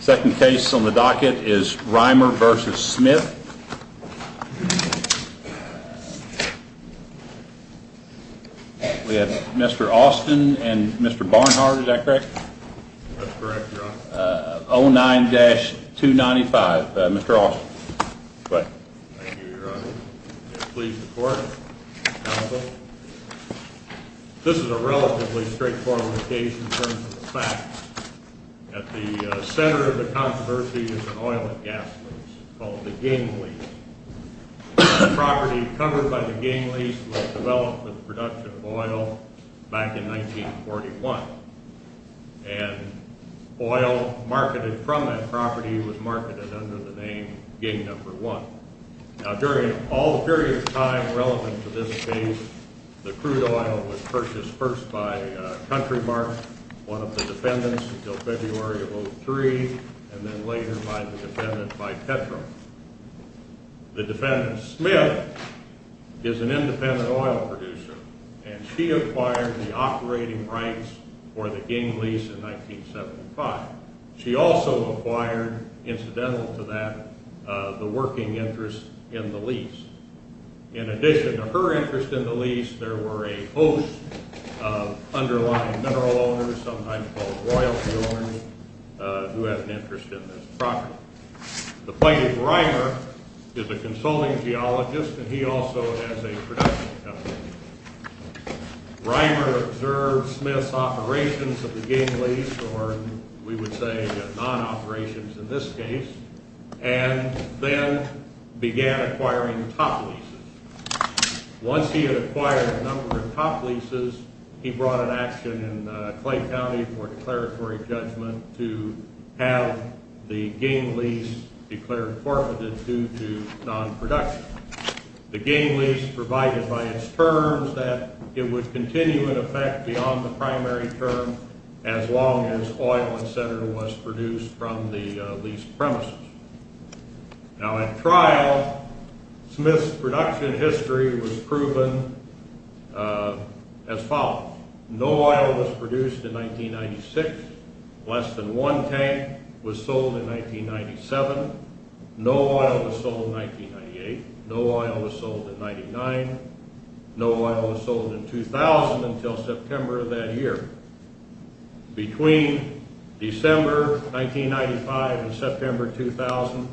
Second case on the docket is Reimer v. Smith. We have Mr. Austin and Mr. Barnhart, is that correct? That's correct, Your Honor. 09-295, Mr. Austin. Go ahead. Thank you, Your Honor. Please report, counsel. This is a relatively straightforward location in terms of the facts. At the center of the controversy is an oil and gas lease called the Ging lease. The property covered by the Ging lease was developed with production of oil back in 1941. And oil marketed from that property was marketed under the name Ging No. 1. Now, during all periods of time relevant to this case, the crude oil was purchased first by Countrymark, one of the defendants, until February of 03, and then later by the defendant, by Petro. The defendant, Smith, is an independent oil producer, and she acquired the operating rights for the Ging lease in 1975. She also acquired, incidental to that, the working interest in the lease. In addition to her interest in the lease, there were a host of underlying mineral owners, sometimes called royalty owners, who had an interest in this property. The plaintiff, Reimer, is a consulting geologist, and he also has a production company. Reimer observed Smith's operations of the Ging lease, or we would say non-operations in this case, and then began acquiring top leases. Once he had acquired a number of top leases, he brought an action in Clay County for declaratory judgment to have the Ging lease declared forfeited due to non-production. The Ging lease provided by its terms that it would continue in effect beyond the primary term as long as oil and cinder was produced from the lease premises. Now at trial, Smith's production history was proven as follows. No oil was produced in 1996. Less than one tank was sold in 1997. No oil was sold in 1998. No oil was sold in 1999. No oil was sold in 2000 until September of that year. Between December 1995 and September 2000,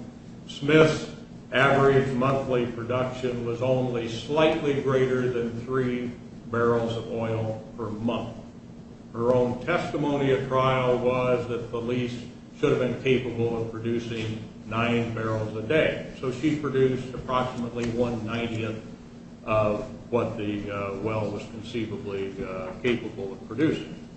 Smith's average monthly production was only slightly greater than three barrels of oil per month. Her own testimony at trial was that the lease should have been capable of producing nine barrels a day, so she produced approximately 190th of what the well was conceivably capable of producing.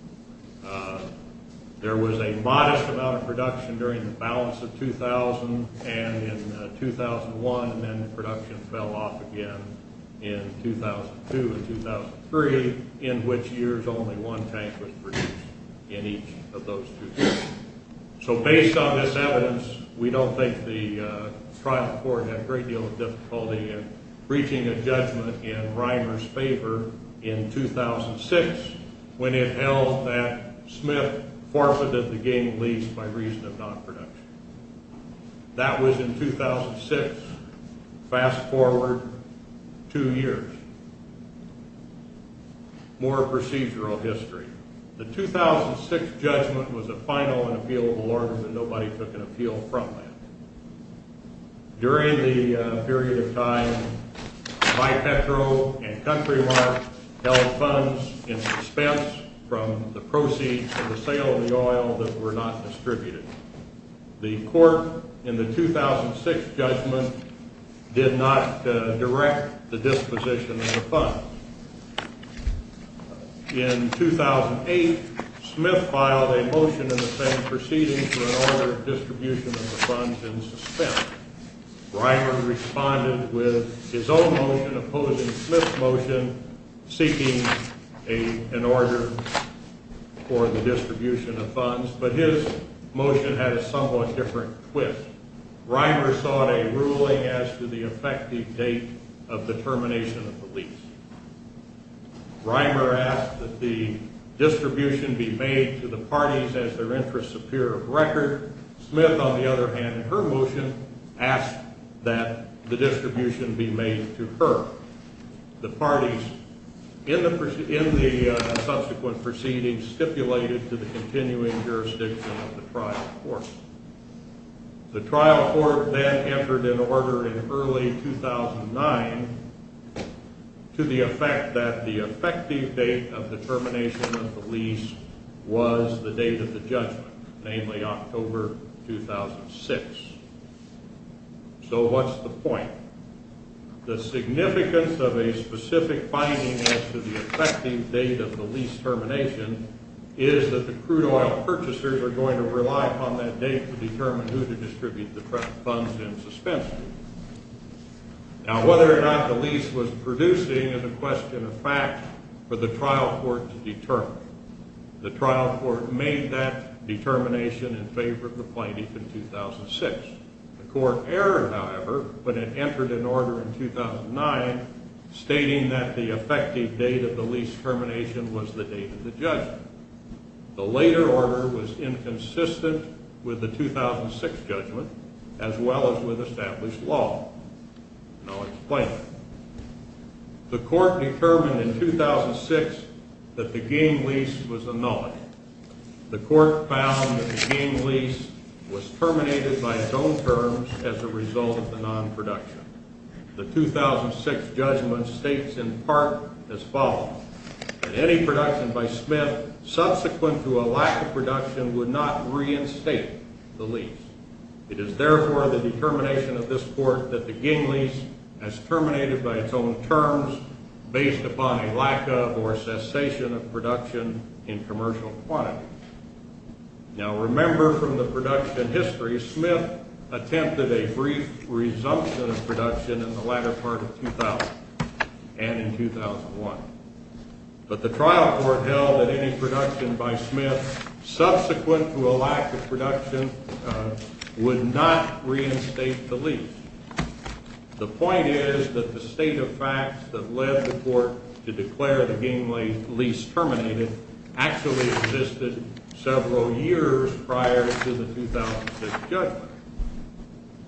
There was a modest amount of production during the balance of 2000 and in 2001, and then the production fell off again in 2002 and 2003, in which years only one tank was produced in each of those two years. So based on this evidence, we don't think the trial court had a great deal of difficulty in reaching a judgment in Reimer's favor in 2006 when it held that Smith forfeited the game lease by reason of non-production. That was in 2006. Fast forward two years. More procedural history. The 2006 judgment was a final and appealable order, but nobody took an appeal from that. During the period of time, BiPetro and Countrymark held funds in suspense from the proceeds of the sale of the oil that were not distributed. The court in the 2006 judgment did not direct the disposition of the funds. In 2008, Smith filed a motion in the Senate proceeding to an order of distribution of the funds in suspense. Reimer responded with his own motion opposing Smith's motion seeking an order for the distribution of funds, but his motion had a somewhat different twist. Reimer sought a ruling as to the effective date of the termination of the lease. Reimer asked that the distribution be made to the parties as their interests appear of record. Smith, on the other hand, in her motion, asked that the distribution be made to her. The parties in the subsequent proceedings stipulated to the continuing jurisdiction of the trial court. The trial court then entered an order in early 2009 to the effect that the effective date of the termination of the lease was the date of the judgment, namely October 2006. So what's the point? The significance of a specific binding as to the effective date of the lease termination is that the crude oil purchasers are going to rely upon that date to determine who to distribute the funds in suspense to. Now, whether or not the lease was producing is a question of fact for the trial court to determine. The trial court made that determination in favor of the plaintiff in 2006. The court erred, however, when it entered an order in 2009 stating that the effective date of the lease termination was the date of the judgment. The later order was inconsistent with the 2006 judgment as well as with established law. And I'll explain it. The court determined in 2006 that the game lease was annulled. The court found that the game lease was terminated by its own terms as a result of the non-production. The 2006 judgment states in part as follows, that any production by Smith subsequent to a lack of production would not reinstate the lease. It is therefore the determination of this court that the game lease has terminated by its own terms based upon a lack of or cessation of production in commercial quantity. Now, remember from the production history, Smith attempted a brief resumption of production in the latter part of 2000 and in 2001. But the trial court held that any production by Smith subsequent to a lack of production would not reinstate the lease. The point is that the state of facts that led the court to declare the game lease terminated actually existed several years prior to the 2006 judgment.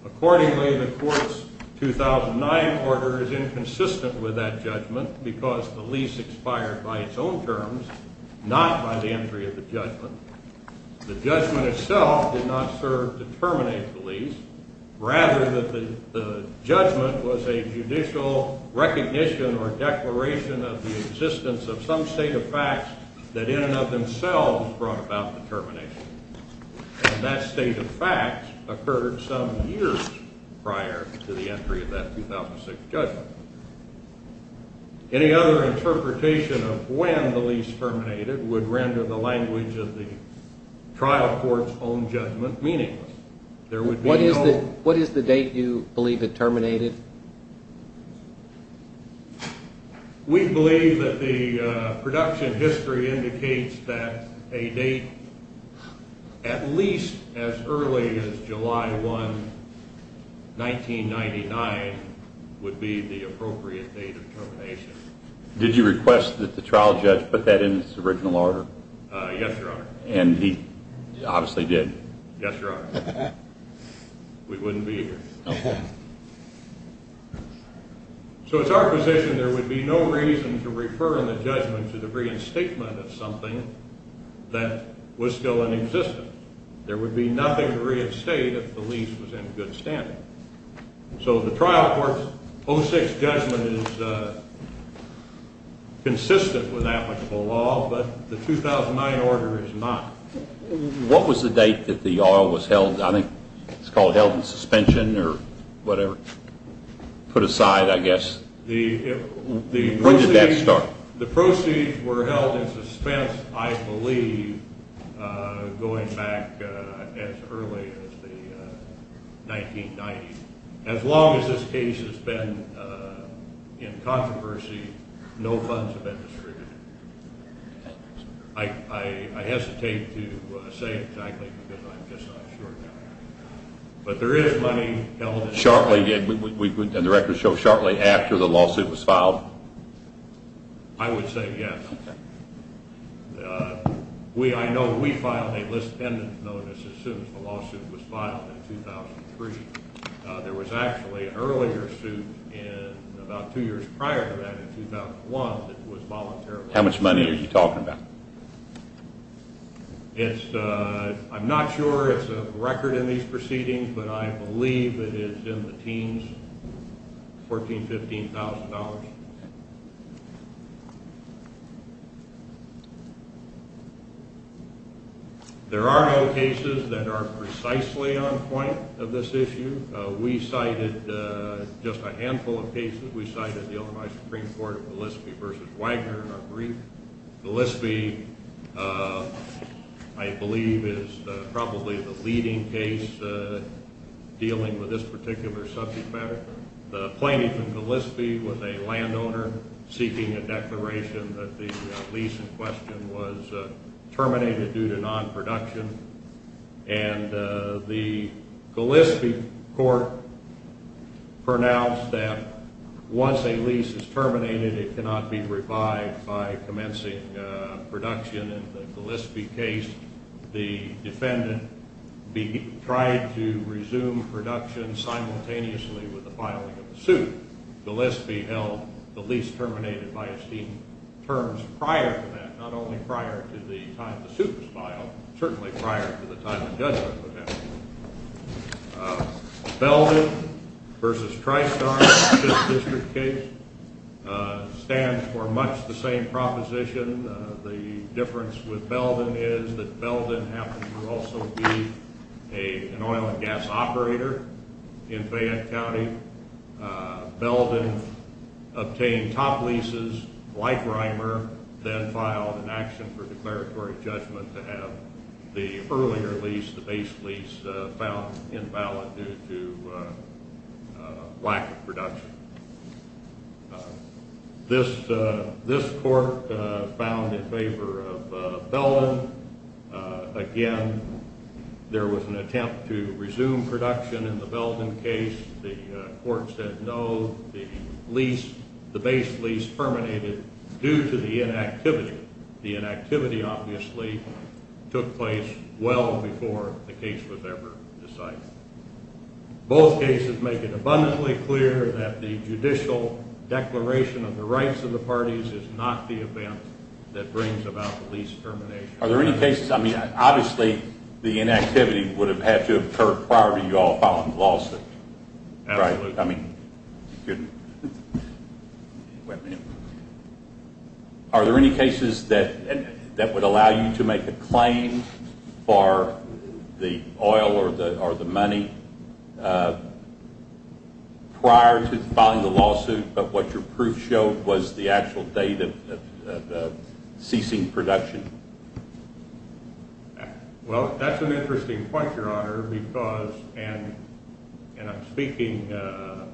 Accordingly, the court's 2009 order is inconsistent with that judgment because the lease expired by its own terms, not by the entry of the judgment. The judgment itself did not serve to terminate the lease. Rather, the judgment was a judicial recognition or declaration of the existence of some state of facts that in and of themselves brought about the termination. And that state of facts occurred some years prior to the entry of that 2006 judgment. Any other interpretation of when the lease terminated would render the language of the trial court's own judgment meaningless. What is the date you believe it terminated? We believe that the production history indicates that a date at least as early as July 1, 1999, would be the appropriate date of termination. Did you request that the trial judge put that in its original order? Yes, Your Honor. And he obviously did. Yes, Your Honor. We wouldn't be here. So it's our position there would be no reason to refer in the judgment to the reinstatement of something that was still in existence. There would be nothing to reinstate if the lease was in good standing. So the trial court's 2006 judgment is consistent with applicable law, but the 2009 order is not. What was the date that the oil was held? I think it's called held in suspension or whatever. Put aside, I guess. When did that start? The proceeds were held in suspense, I believe, going back as early as the 1990s. As long as this case has been in controversy, no funds have been distributed. I hesitate to say exactly because I'm just not sure. But there is money held in suspension. And the records show shortly after the lawsuit was filed? I would say yes. I know we filed a list-pendant notice as soon as the lawsuit was filed in 2003. There was actually an earlier suit in about two years prior to that in 2001 How much money are you talking about? I'm not sure. It's a record in these proceedings. But I believe it is in the teens, $14,000, $15,000. There are no cases that are precisely on point of this issue. We cited just a handful of cases. We cited the Illinois Supreme Court of Gillespie v. Wagner in our brief. Gillespie, I believe, is probably the leading case dealing with this particular subject matter. The plaintiff in Gillespie was a landowner seeking a declaration that the lease in question was terminated due to non-production. And the Gillespie court pronounced that once a lease is terminated, it cannot be revived by commencing production. In the Gillespie case, the defendant tried to resume production simultaneously with the filing of the suit. Gillespie held the lease terminated by esteem terms prior to that, not only prior to the time the suit was filed, but certainly prior to the time the judgment was held. Belden v. Tristar in this district case stands for much the same proposition. The difference with Belden is that Belden happens to also be an oil and gas operator in Fayette County. Belden obtained top leases like Reimer, then filed an action for declaratory judgment to have the earlier lease, the base lease, found invalid due to lack of production. This court found in favor of Belden. Again, there was an attempt to resume production in the Belden case. The court said no, the base lease terminated due to the inactivity. The inactivity obviously took place well before the case was ever decided. Both cases make it abundantly clear that the judicial declaration of the rights of the parties is not the event that brings about the lease termination. Are there any cases, I mean obviously the inactivity would have had to occur prior to you all filing the lawsuit. Absolutely. Are there any cases that would allow you to make a claim for the oil or the money prior to filing the lawsuit, but what your proof showed was the actual date of the ceasing production? Well, that's an interesting point, Your Honor, because, and I'm speaking to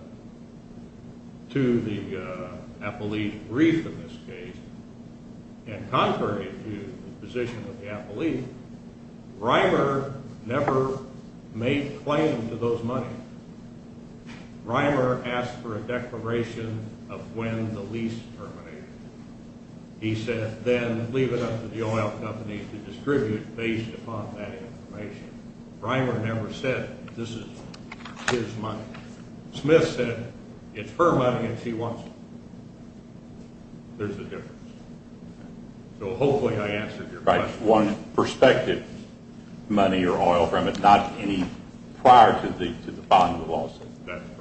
the appellee's brief in this case, and contrary to the position of the appellee, Reimer never made a claim to those money. Reimer asked for a declaration of when the lease terminated. He said then leave it up to the oil companies to distribute based upon that information. Reimer never said this is his money. Smith said it's her money and she wants it. There's a difference. So hopefully I answered your question. All right, one perspective, money or oil from it, not any prior to the filing of the lawsuit. That's correct.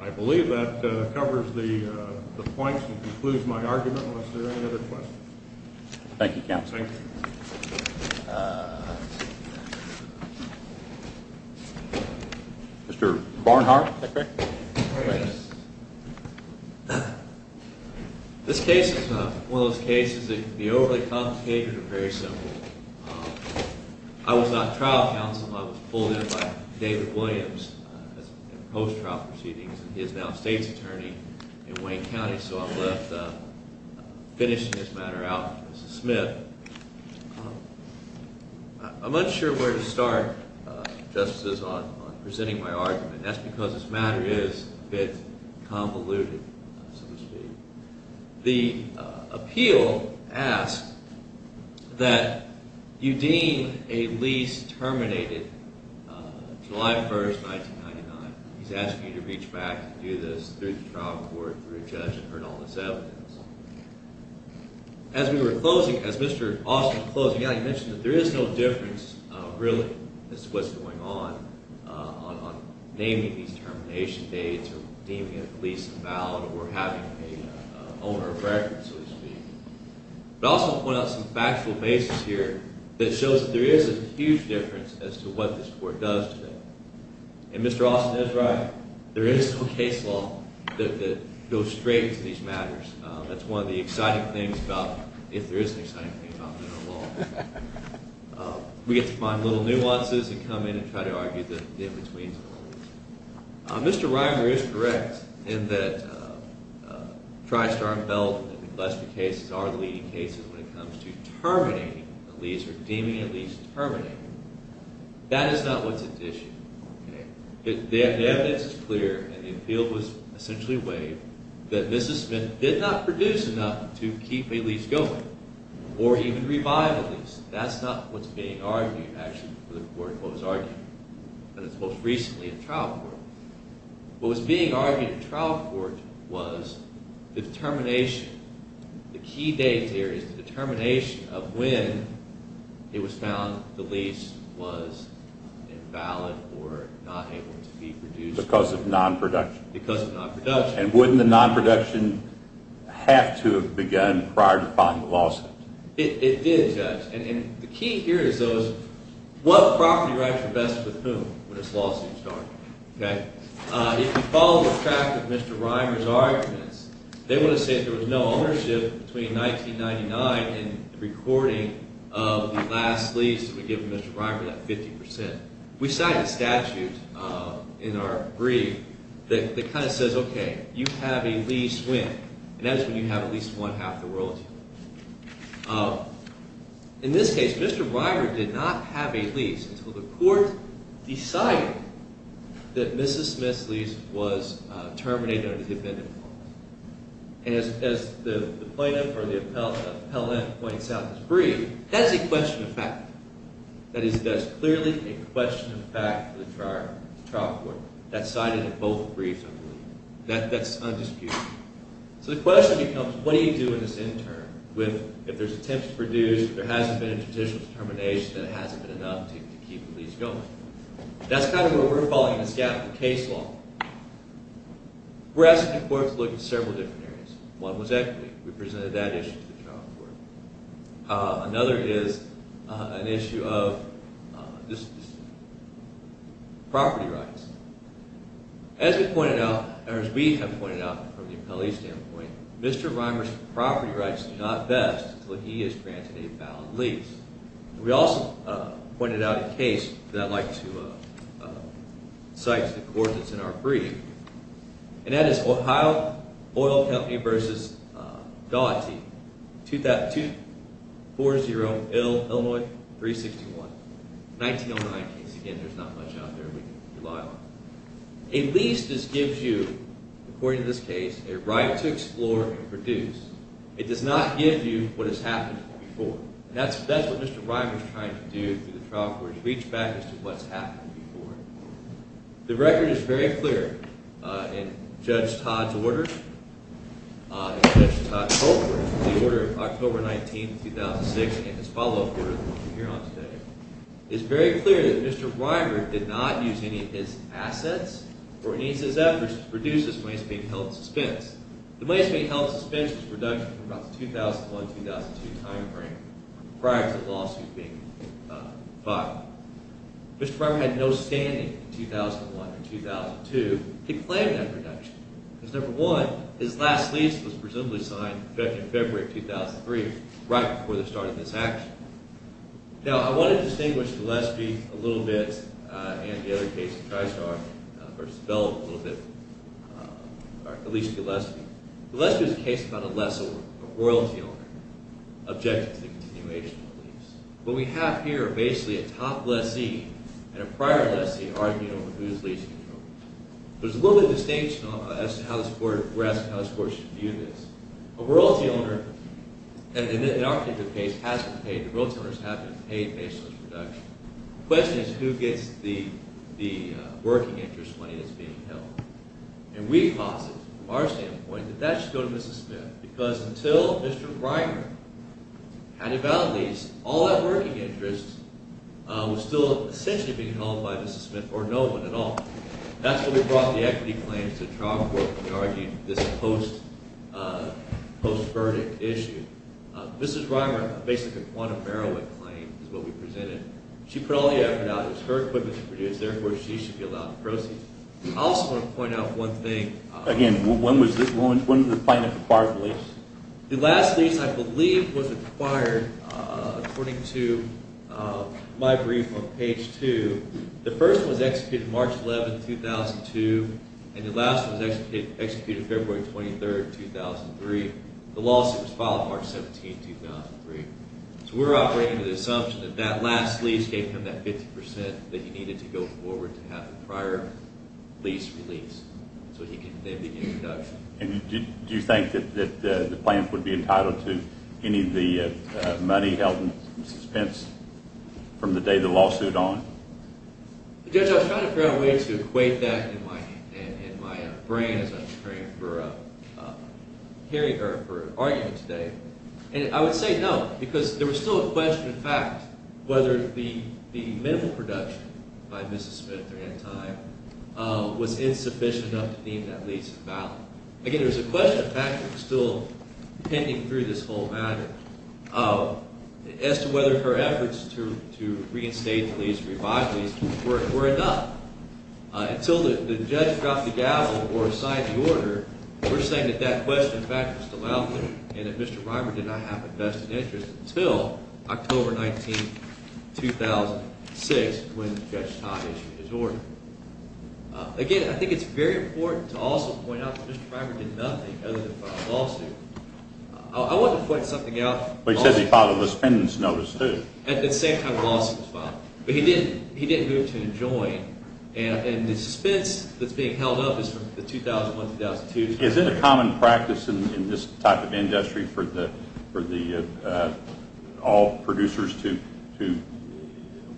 I believe that covers the points and concludes my argument. Are there any other questions? Thank you, Counsel. Thank you. Mr. Barnhart. This case is one of those cases that can be overly complicated or very simple. I was not trial counsel. I was pulled in by David Williams in post-trial proceedings, and he is now a state's attorney in Wayne County, so I'm left finishing this matter out for Mrs. Smith. I'm unsure where to start, Justices, on presenting my argument. That's because this matter is a bit convoluted, so to speak. The appeal asks that you deem a lease terminated July 1, 1999. He's asking you to reach back and do this through the trial court, through a judge, and heard all this evidence. As Mr. Austin was closing out, he mentioned that there is no difference, really, as to what's going on, on naming these termination dates or deeming a lease invalid or having an owner of record, so to speak. But I'll also point out some factual basis here that shows that there is a huge difference as to what this court does today. And Mr. Austin is right. There is no case law that goes straight into these matters. That's one of the exciting things about, if there is an exciting thing about federal law. We get to find little nuances and come in and try to argue the in-betweens of the rules. Mr. Reimer is correct in that Tri-Star and Belden and the Gillespie cases are the leading cases when it comes to terminating a lease or deeming a lease terminated. That is not what's at issue. The evidence is clear, and the appeal was essentially waived, that Mrs. Smith did not produce enough to keep a lease going or even revive a lease. That's not what's being argued, actually, for the court in what was argued. And it's most recently in trial court. What was being argued in trial court was the determination, the key date here is the determination of when it was found the lease was invalid or not able to be produced. Because of non-production. Because of non-production. And wouldn't the non-production have to have begun prior to filing the lawsuit? It did, Judge. And the key here is what property rights are best with whom when this lawsuit is started. If you follow the track of Mr. Reimer's arguments, they would have said there was no ownership between 1999 and the recording of the last lease that would give Mr. Reimer that 50%. We cited a statute in our brief that kind of says, okay, you have a lease when? And that is when you have at least one half the world. In this case, Mr. Reimer did not have a lease until the court decided that Mrs. Smith's lease was terminated or defended. And as the plaintiff or the appellant points out in his brief, that's a question of fact. That is clearly a question of fact for the trial court. That's cited in both briefs, I believe. That's undisputed. So the question becomes, what do you do in this interim if there's attempts to produce, there hasn't been a judicial determination, and it hasn't been enough to keep the lease going? That's kind of where we're following this gap in case law. We're asking the court to look at several different areas. One was equity. We presented that issue to the trial court. Another is an issue of property rights. As we have pointed out from the appellee standpoint, Mr. Reimer's property rights do not vest until he has granted a valid lease. We also pointed out a case that I'd like to cite to the court that's in our brief. And that is Ohio Oil Company v. Daugherty, 240 Illinois 361, 1909 case. Again, there's not much out there we can rely on. A lease just gives you, according to this case, a right to explore and produce. It does not give you what has happened before. And that's what Mr. Reimer is trying to do through the trial court, is reach back as to what's happened before. The record is very clear in Judge Todd's order. Judge Todd Tolbert, the order of October 19, 2006, and his follow-up order that we'll hear on today, it's very clear that Mr. Reimer did not use any of his assets or any of his efforts to produce this when he's being held in suspense. The way it's being held in suspense is a reduction from about the 2001-2002 time frame prior to the lawsuit being filed. Mr. Reimer had no standing in 2001 or 2002 to claim that reduction. Because, number one, his last lease was presumably signed in February of 2003, right before they started this action. Now, I want to distinguish Gillespie a little bit and the other case in TriStar versus Bell a little bit, or at least Gillespie. Gillespie is a case about a lessor, a royalty owner, objecting to the continuation of the lease. What we have here are basically a top lessee and a prior lessee arguing over who is leasing the property. There's a little bit of distinction as to how this court should view this. A royalty owner, in our case, has been paid. The royalty owners have been paid based on this reduction. The question is who gets the working interest money that's being held. And we posit, from our standpoint, that that should go to Mrs. Smith. Because until Mr. Reimer had a valid lease, all that working interest was still essentially being held by Mrs. Smith, or no one at all. That's why we brought the equity claims to the trial court to argue this post-verdict issue. Mrs. Reimer basically won a Merowick claim, is what we presented. She put all the effort out. It was her equipment to produce. Therefore, she should be allowed to proceed. I also want to point out one thing. Again, when was this, when was the plaintiff acquired the lease? The last lease, I believe, was acquired according to my brief on page 2. The first one was executed March 11, 2002, and the last one was executed February 23, 2003. The lawsuit was filed March 17, 2003. So we're operating with the assumption that that last lease gave him that 50% that he needed to go forward to have the prior lease released, so he could then begin production. Do you think that the plaintiff would be entitled to any of the money held by Mrs. Pence from the day the lawsuit on? Judge, I was trying to figure out a way to equate that in my brain as I was preparing for hearing her argument today. And I would say no, because there was still a question, in fact, whether the minimum production by Mrs. Smith during that time was insufficient enough to deem that lease valid. Again, there was a question, in fact, still pending through this whole matter as to whether her efforts to reinstate the lease, revive the lease, were enough. Until the judge dropped the gavel or signed the order, we're saying that that question, in fact, was still out there and that Mr. Reimer did not have a vested interest until October 19, 2006 when Judge Todd issued his order. Again, I think it's very important to also point out that Mr. Reimer did nothing other than file a lawsuit. I wanted to point something out. But he said he filed a suspense notice, too. At the same time the lawsuit was filed. But he didn't move to enjoin. And the suspense that's being held up is from 2001-2002. Is it a common practice in this type of industry for all producers to,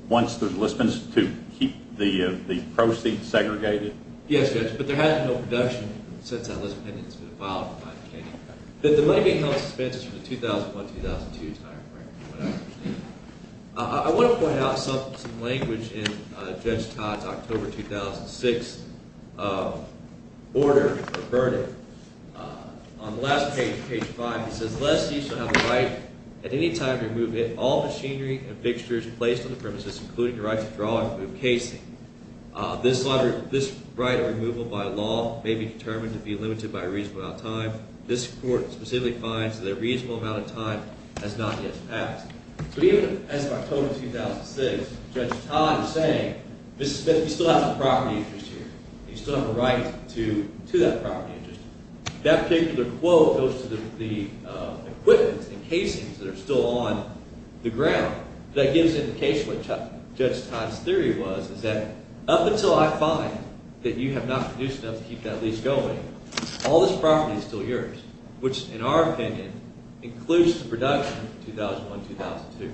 once there's a list pending, to keep the proceeds segregated? Yes, Judge, but there has been no production since that list pending has been filed. But the money being held in suspense is from the 2001-2002 timeframe, from what I understand. I want to point out some language in Judge Todd's October 2006 order or verdict. On the last page, page 5, he says, This is unless you still have the right at any time to remove all machinery and fixtures placed on the premises, including the right to draw and remove casing. This right of removal by law may be determined to be limited by a reasonable amount of time. This court specifically finds that a reasonable amount of time has not yet passed. But even as of October 2006, Judge Todd is saying, we still have a property interest here. You still have a right to that property interest. That particular quote goes to the equipment and casings that are still on the ground. That gives an indication of what Judge Todd's theory was, is that up until I find that you have not produced enough to keep that lease going, all this property is still yours. Which, in our opinion, includes the production of 2001-2002.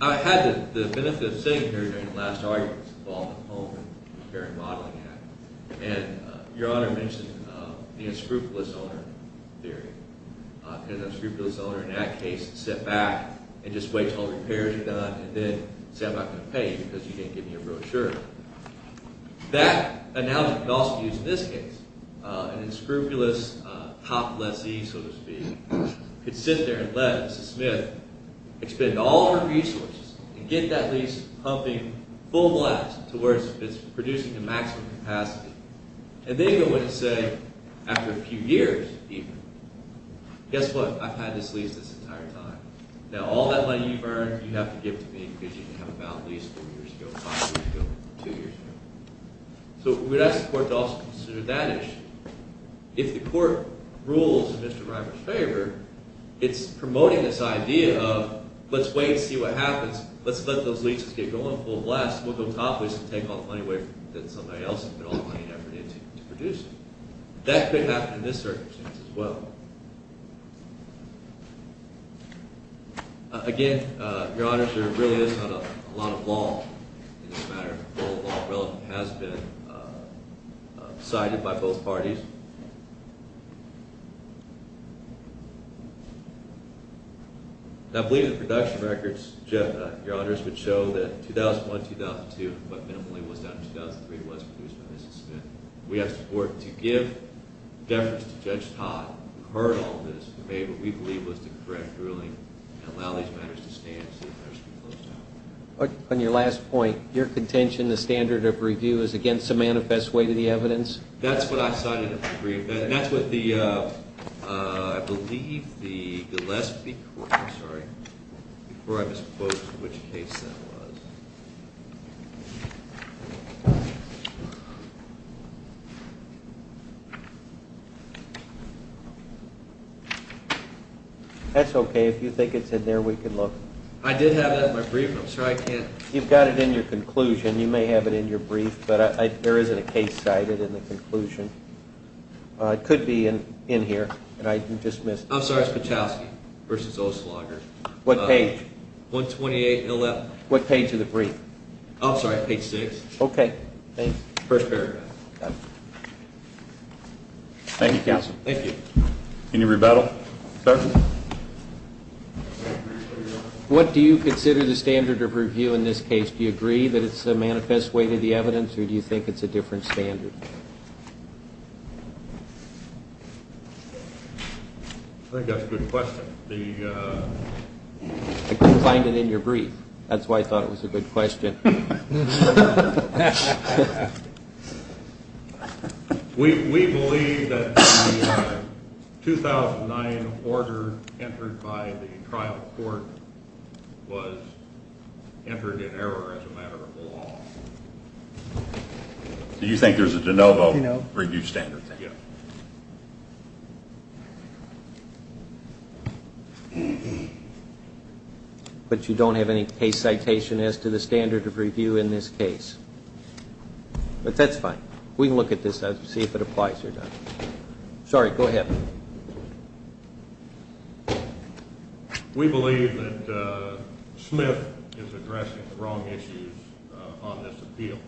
I had the benefit of sitting here during the last arguments involving the Home Repair and Modeling Act. And Your Honor mentioned the unscrupulous owner theory. An unscrupulous owner in that case would sit back and just wait until the repairs are done and then say, I'm not going to pay you because you didn't give me a brochure. That analogy could also be used in this case. An unscrupulous top lessee, so to speak, could sit there and let Mrs. Smith expend all her resources and get that lease pumping full blast to where it's producing the maximum capacity. And then go in and say, after a few years even, guess what, I've had this lease this entire time. Now all that money you've earned, you have to give to me because you didn't have a valid lease four years ago, five years ago, two years ago. So we'd ask the court to also consider that issue. If the court rules in Mr. Reimer's favor, it's promoting this idea of, let's wait and see what happens. Let's let those leases get going full blast. We'll go top leese and take all the money away from somebody else and put all the money and effort into producing. That could happen in this circumstance as well. Again, Your Honors, there really is not a lot of law in this matter. All the law relevant has been decided by both parties. I believe the production records, Your Honors, would show that 2001-2002, but minimally it was down to 2003, was produced by Mrs. Smith. We ask the court to give deference to Judge Todd, who heard all this, who made what we believe was the correct ruling, and allow these matters to stand and see if matters can be closed down. On your last point, your contention, the standard of review is against a manifest way to the evidence? That's what I cited in the brief. That's what the, I believe, the last, I'm sorry, before I misspoke, which case that was. That's okay. If you think it's in there, we can look. I did have that in my brief. I'm sorry, I can't. You've got it in your conclusion. You may have it in your brief, but there isn't a case cited in the conclusion. It could be in here, and I just missed it. I'm sorry, it's Patowski v. Oslaugher. What page? 128-11. What page of the brief? I'm sorry, page 6. Okay, thanks. First paragraph. Thank you, counsel. Thank you. Any rebuttal? Sir? What do you consider the standard of review in this case? Do you agree that it's a manifest way to the evidence, or do you think it's a different standard? I think that's a good question. I couldn't find it in your brief. That's why I thought it was a good question. We believe that the 2009 order entered by the trial court was entered in error as a matter of the law. Do you think there's a de novo review standard? Yes. Thank you. But you don't have any case citation as to the standard of review in this case? But that's fine. We can look at this and see if it applies or not. Sorry, go ahead. We believe that Smith is addressing the wrong issues on this appeal.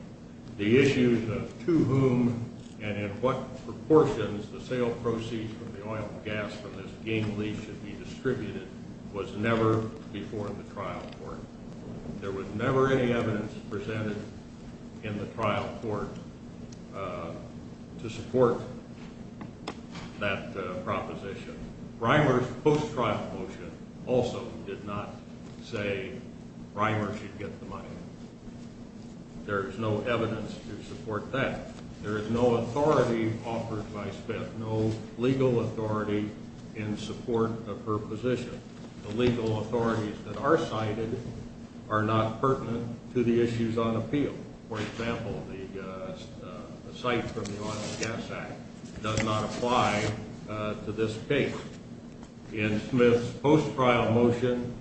The issues of to whom and in what proportions the sale proceeds of the oil and gas from this game lease should be distributed was never before the trial court. There was never any evidence presented in the trial court to support that proposition. Reimer's post-trial motion also did not say Reimer should get the money. There is no evidence to support that. There is no authority offered by Smith, no legal authority in support of her position. The legal authorities that are cited are not pertinent to the issues on appeal. For example, the cite from the Oil and Gas Act does not apply to this case. In Smith's post-trial motion,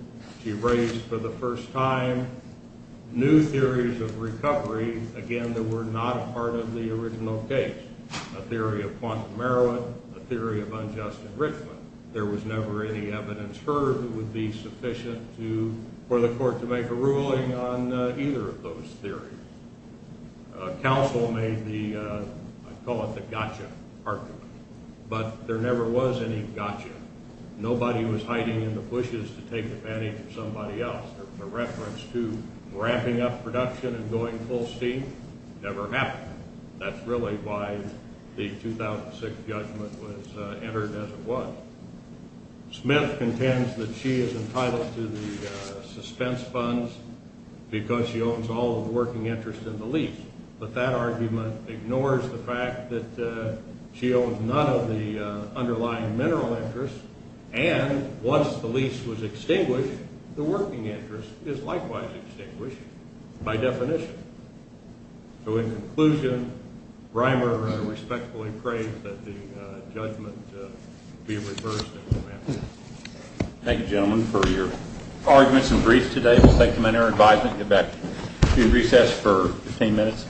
she raised for the first time new theories of recovery, again, that were not a part of the original case. A theory of quantum heroin, a theory of unjust enrichment. There was never any evidence heard that would be sufficient for the court to make a ruling on either of those theories. Council made the, I call it the gotcha argument, but there never was any gotcha. Nobody was hiding in the bushes to take advantage of somebody else. The reference to ramping up production and going full steam never happened. That's really why the 2006 judgment was entered as it was. Smith contends that she is entitled to the suspense funds because she owns all of the working interest in the lease. But that argument ignores the fact that she owns none of the underlying mineral interests. And once the lease was extinguished, the working interest is likewise extinguished by definition. So in conclusion, Reimer respectfully prays that the judgment be reversed and ramped up. Thank you, gentlemen, for your arguments and briefs today. We'll take them under our advisement and get back to recess for 15 minutes.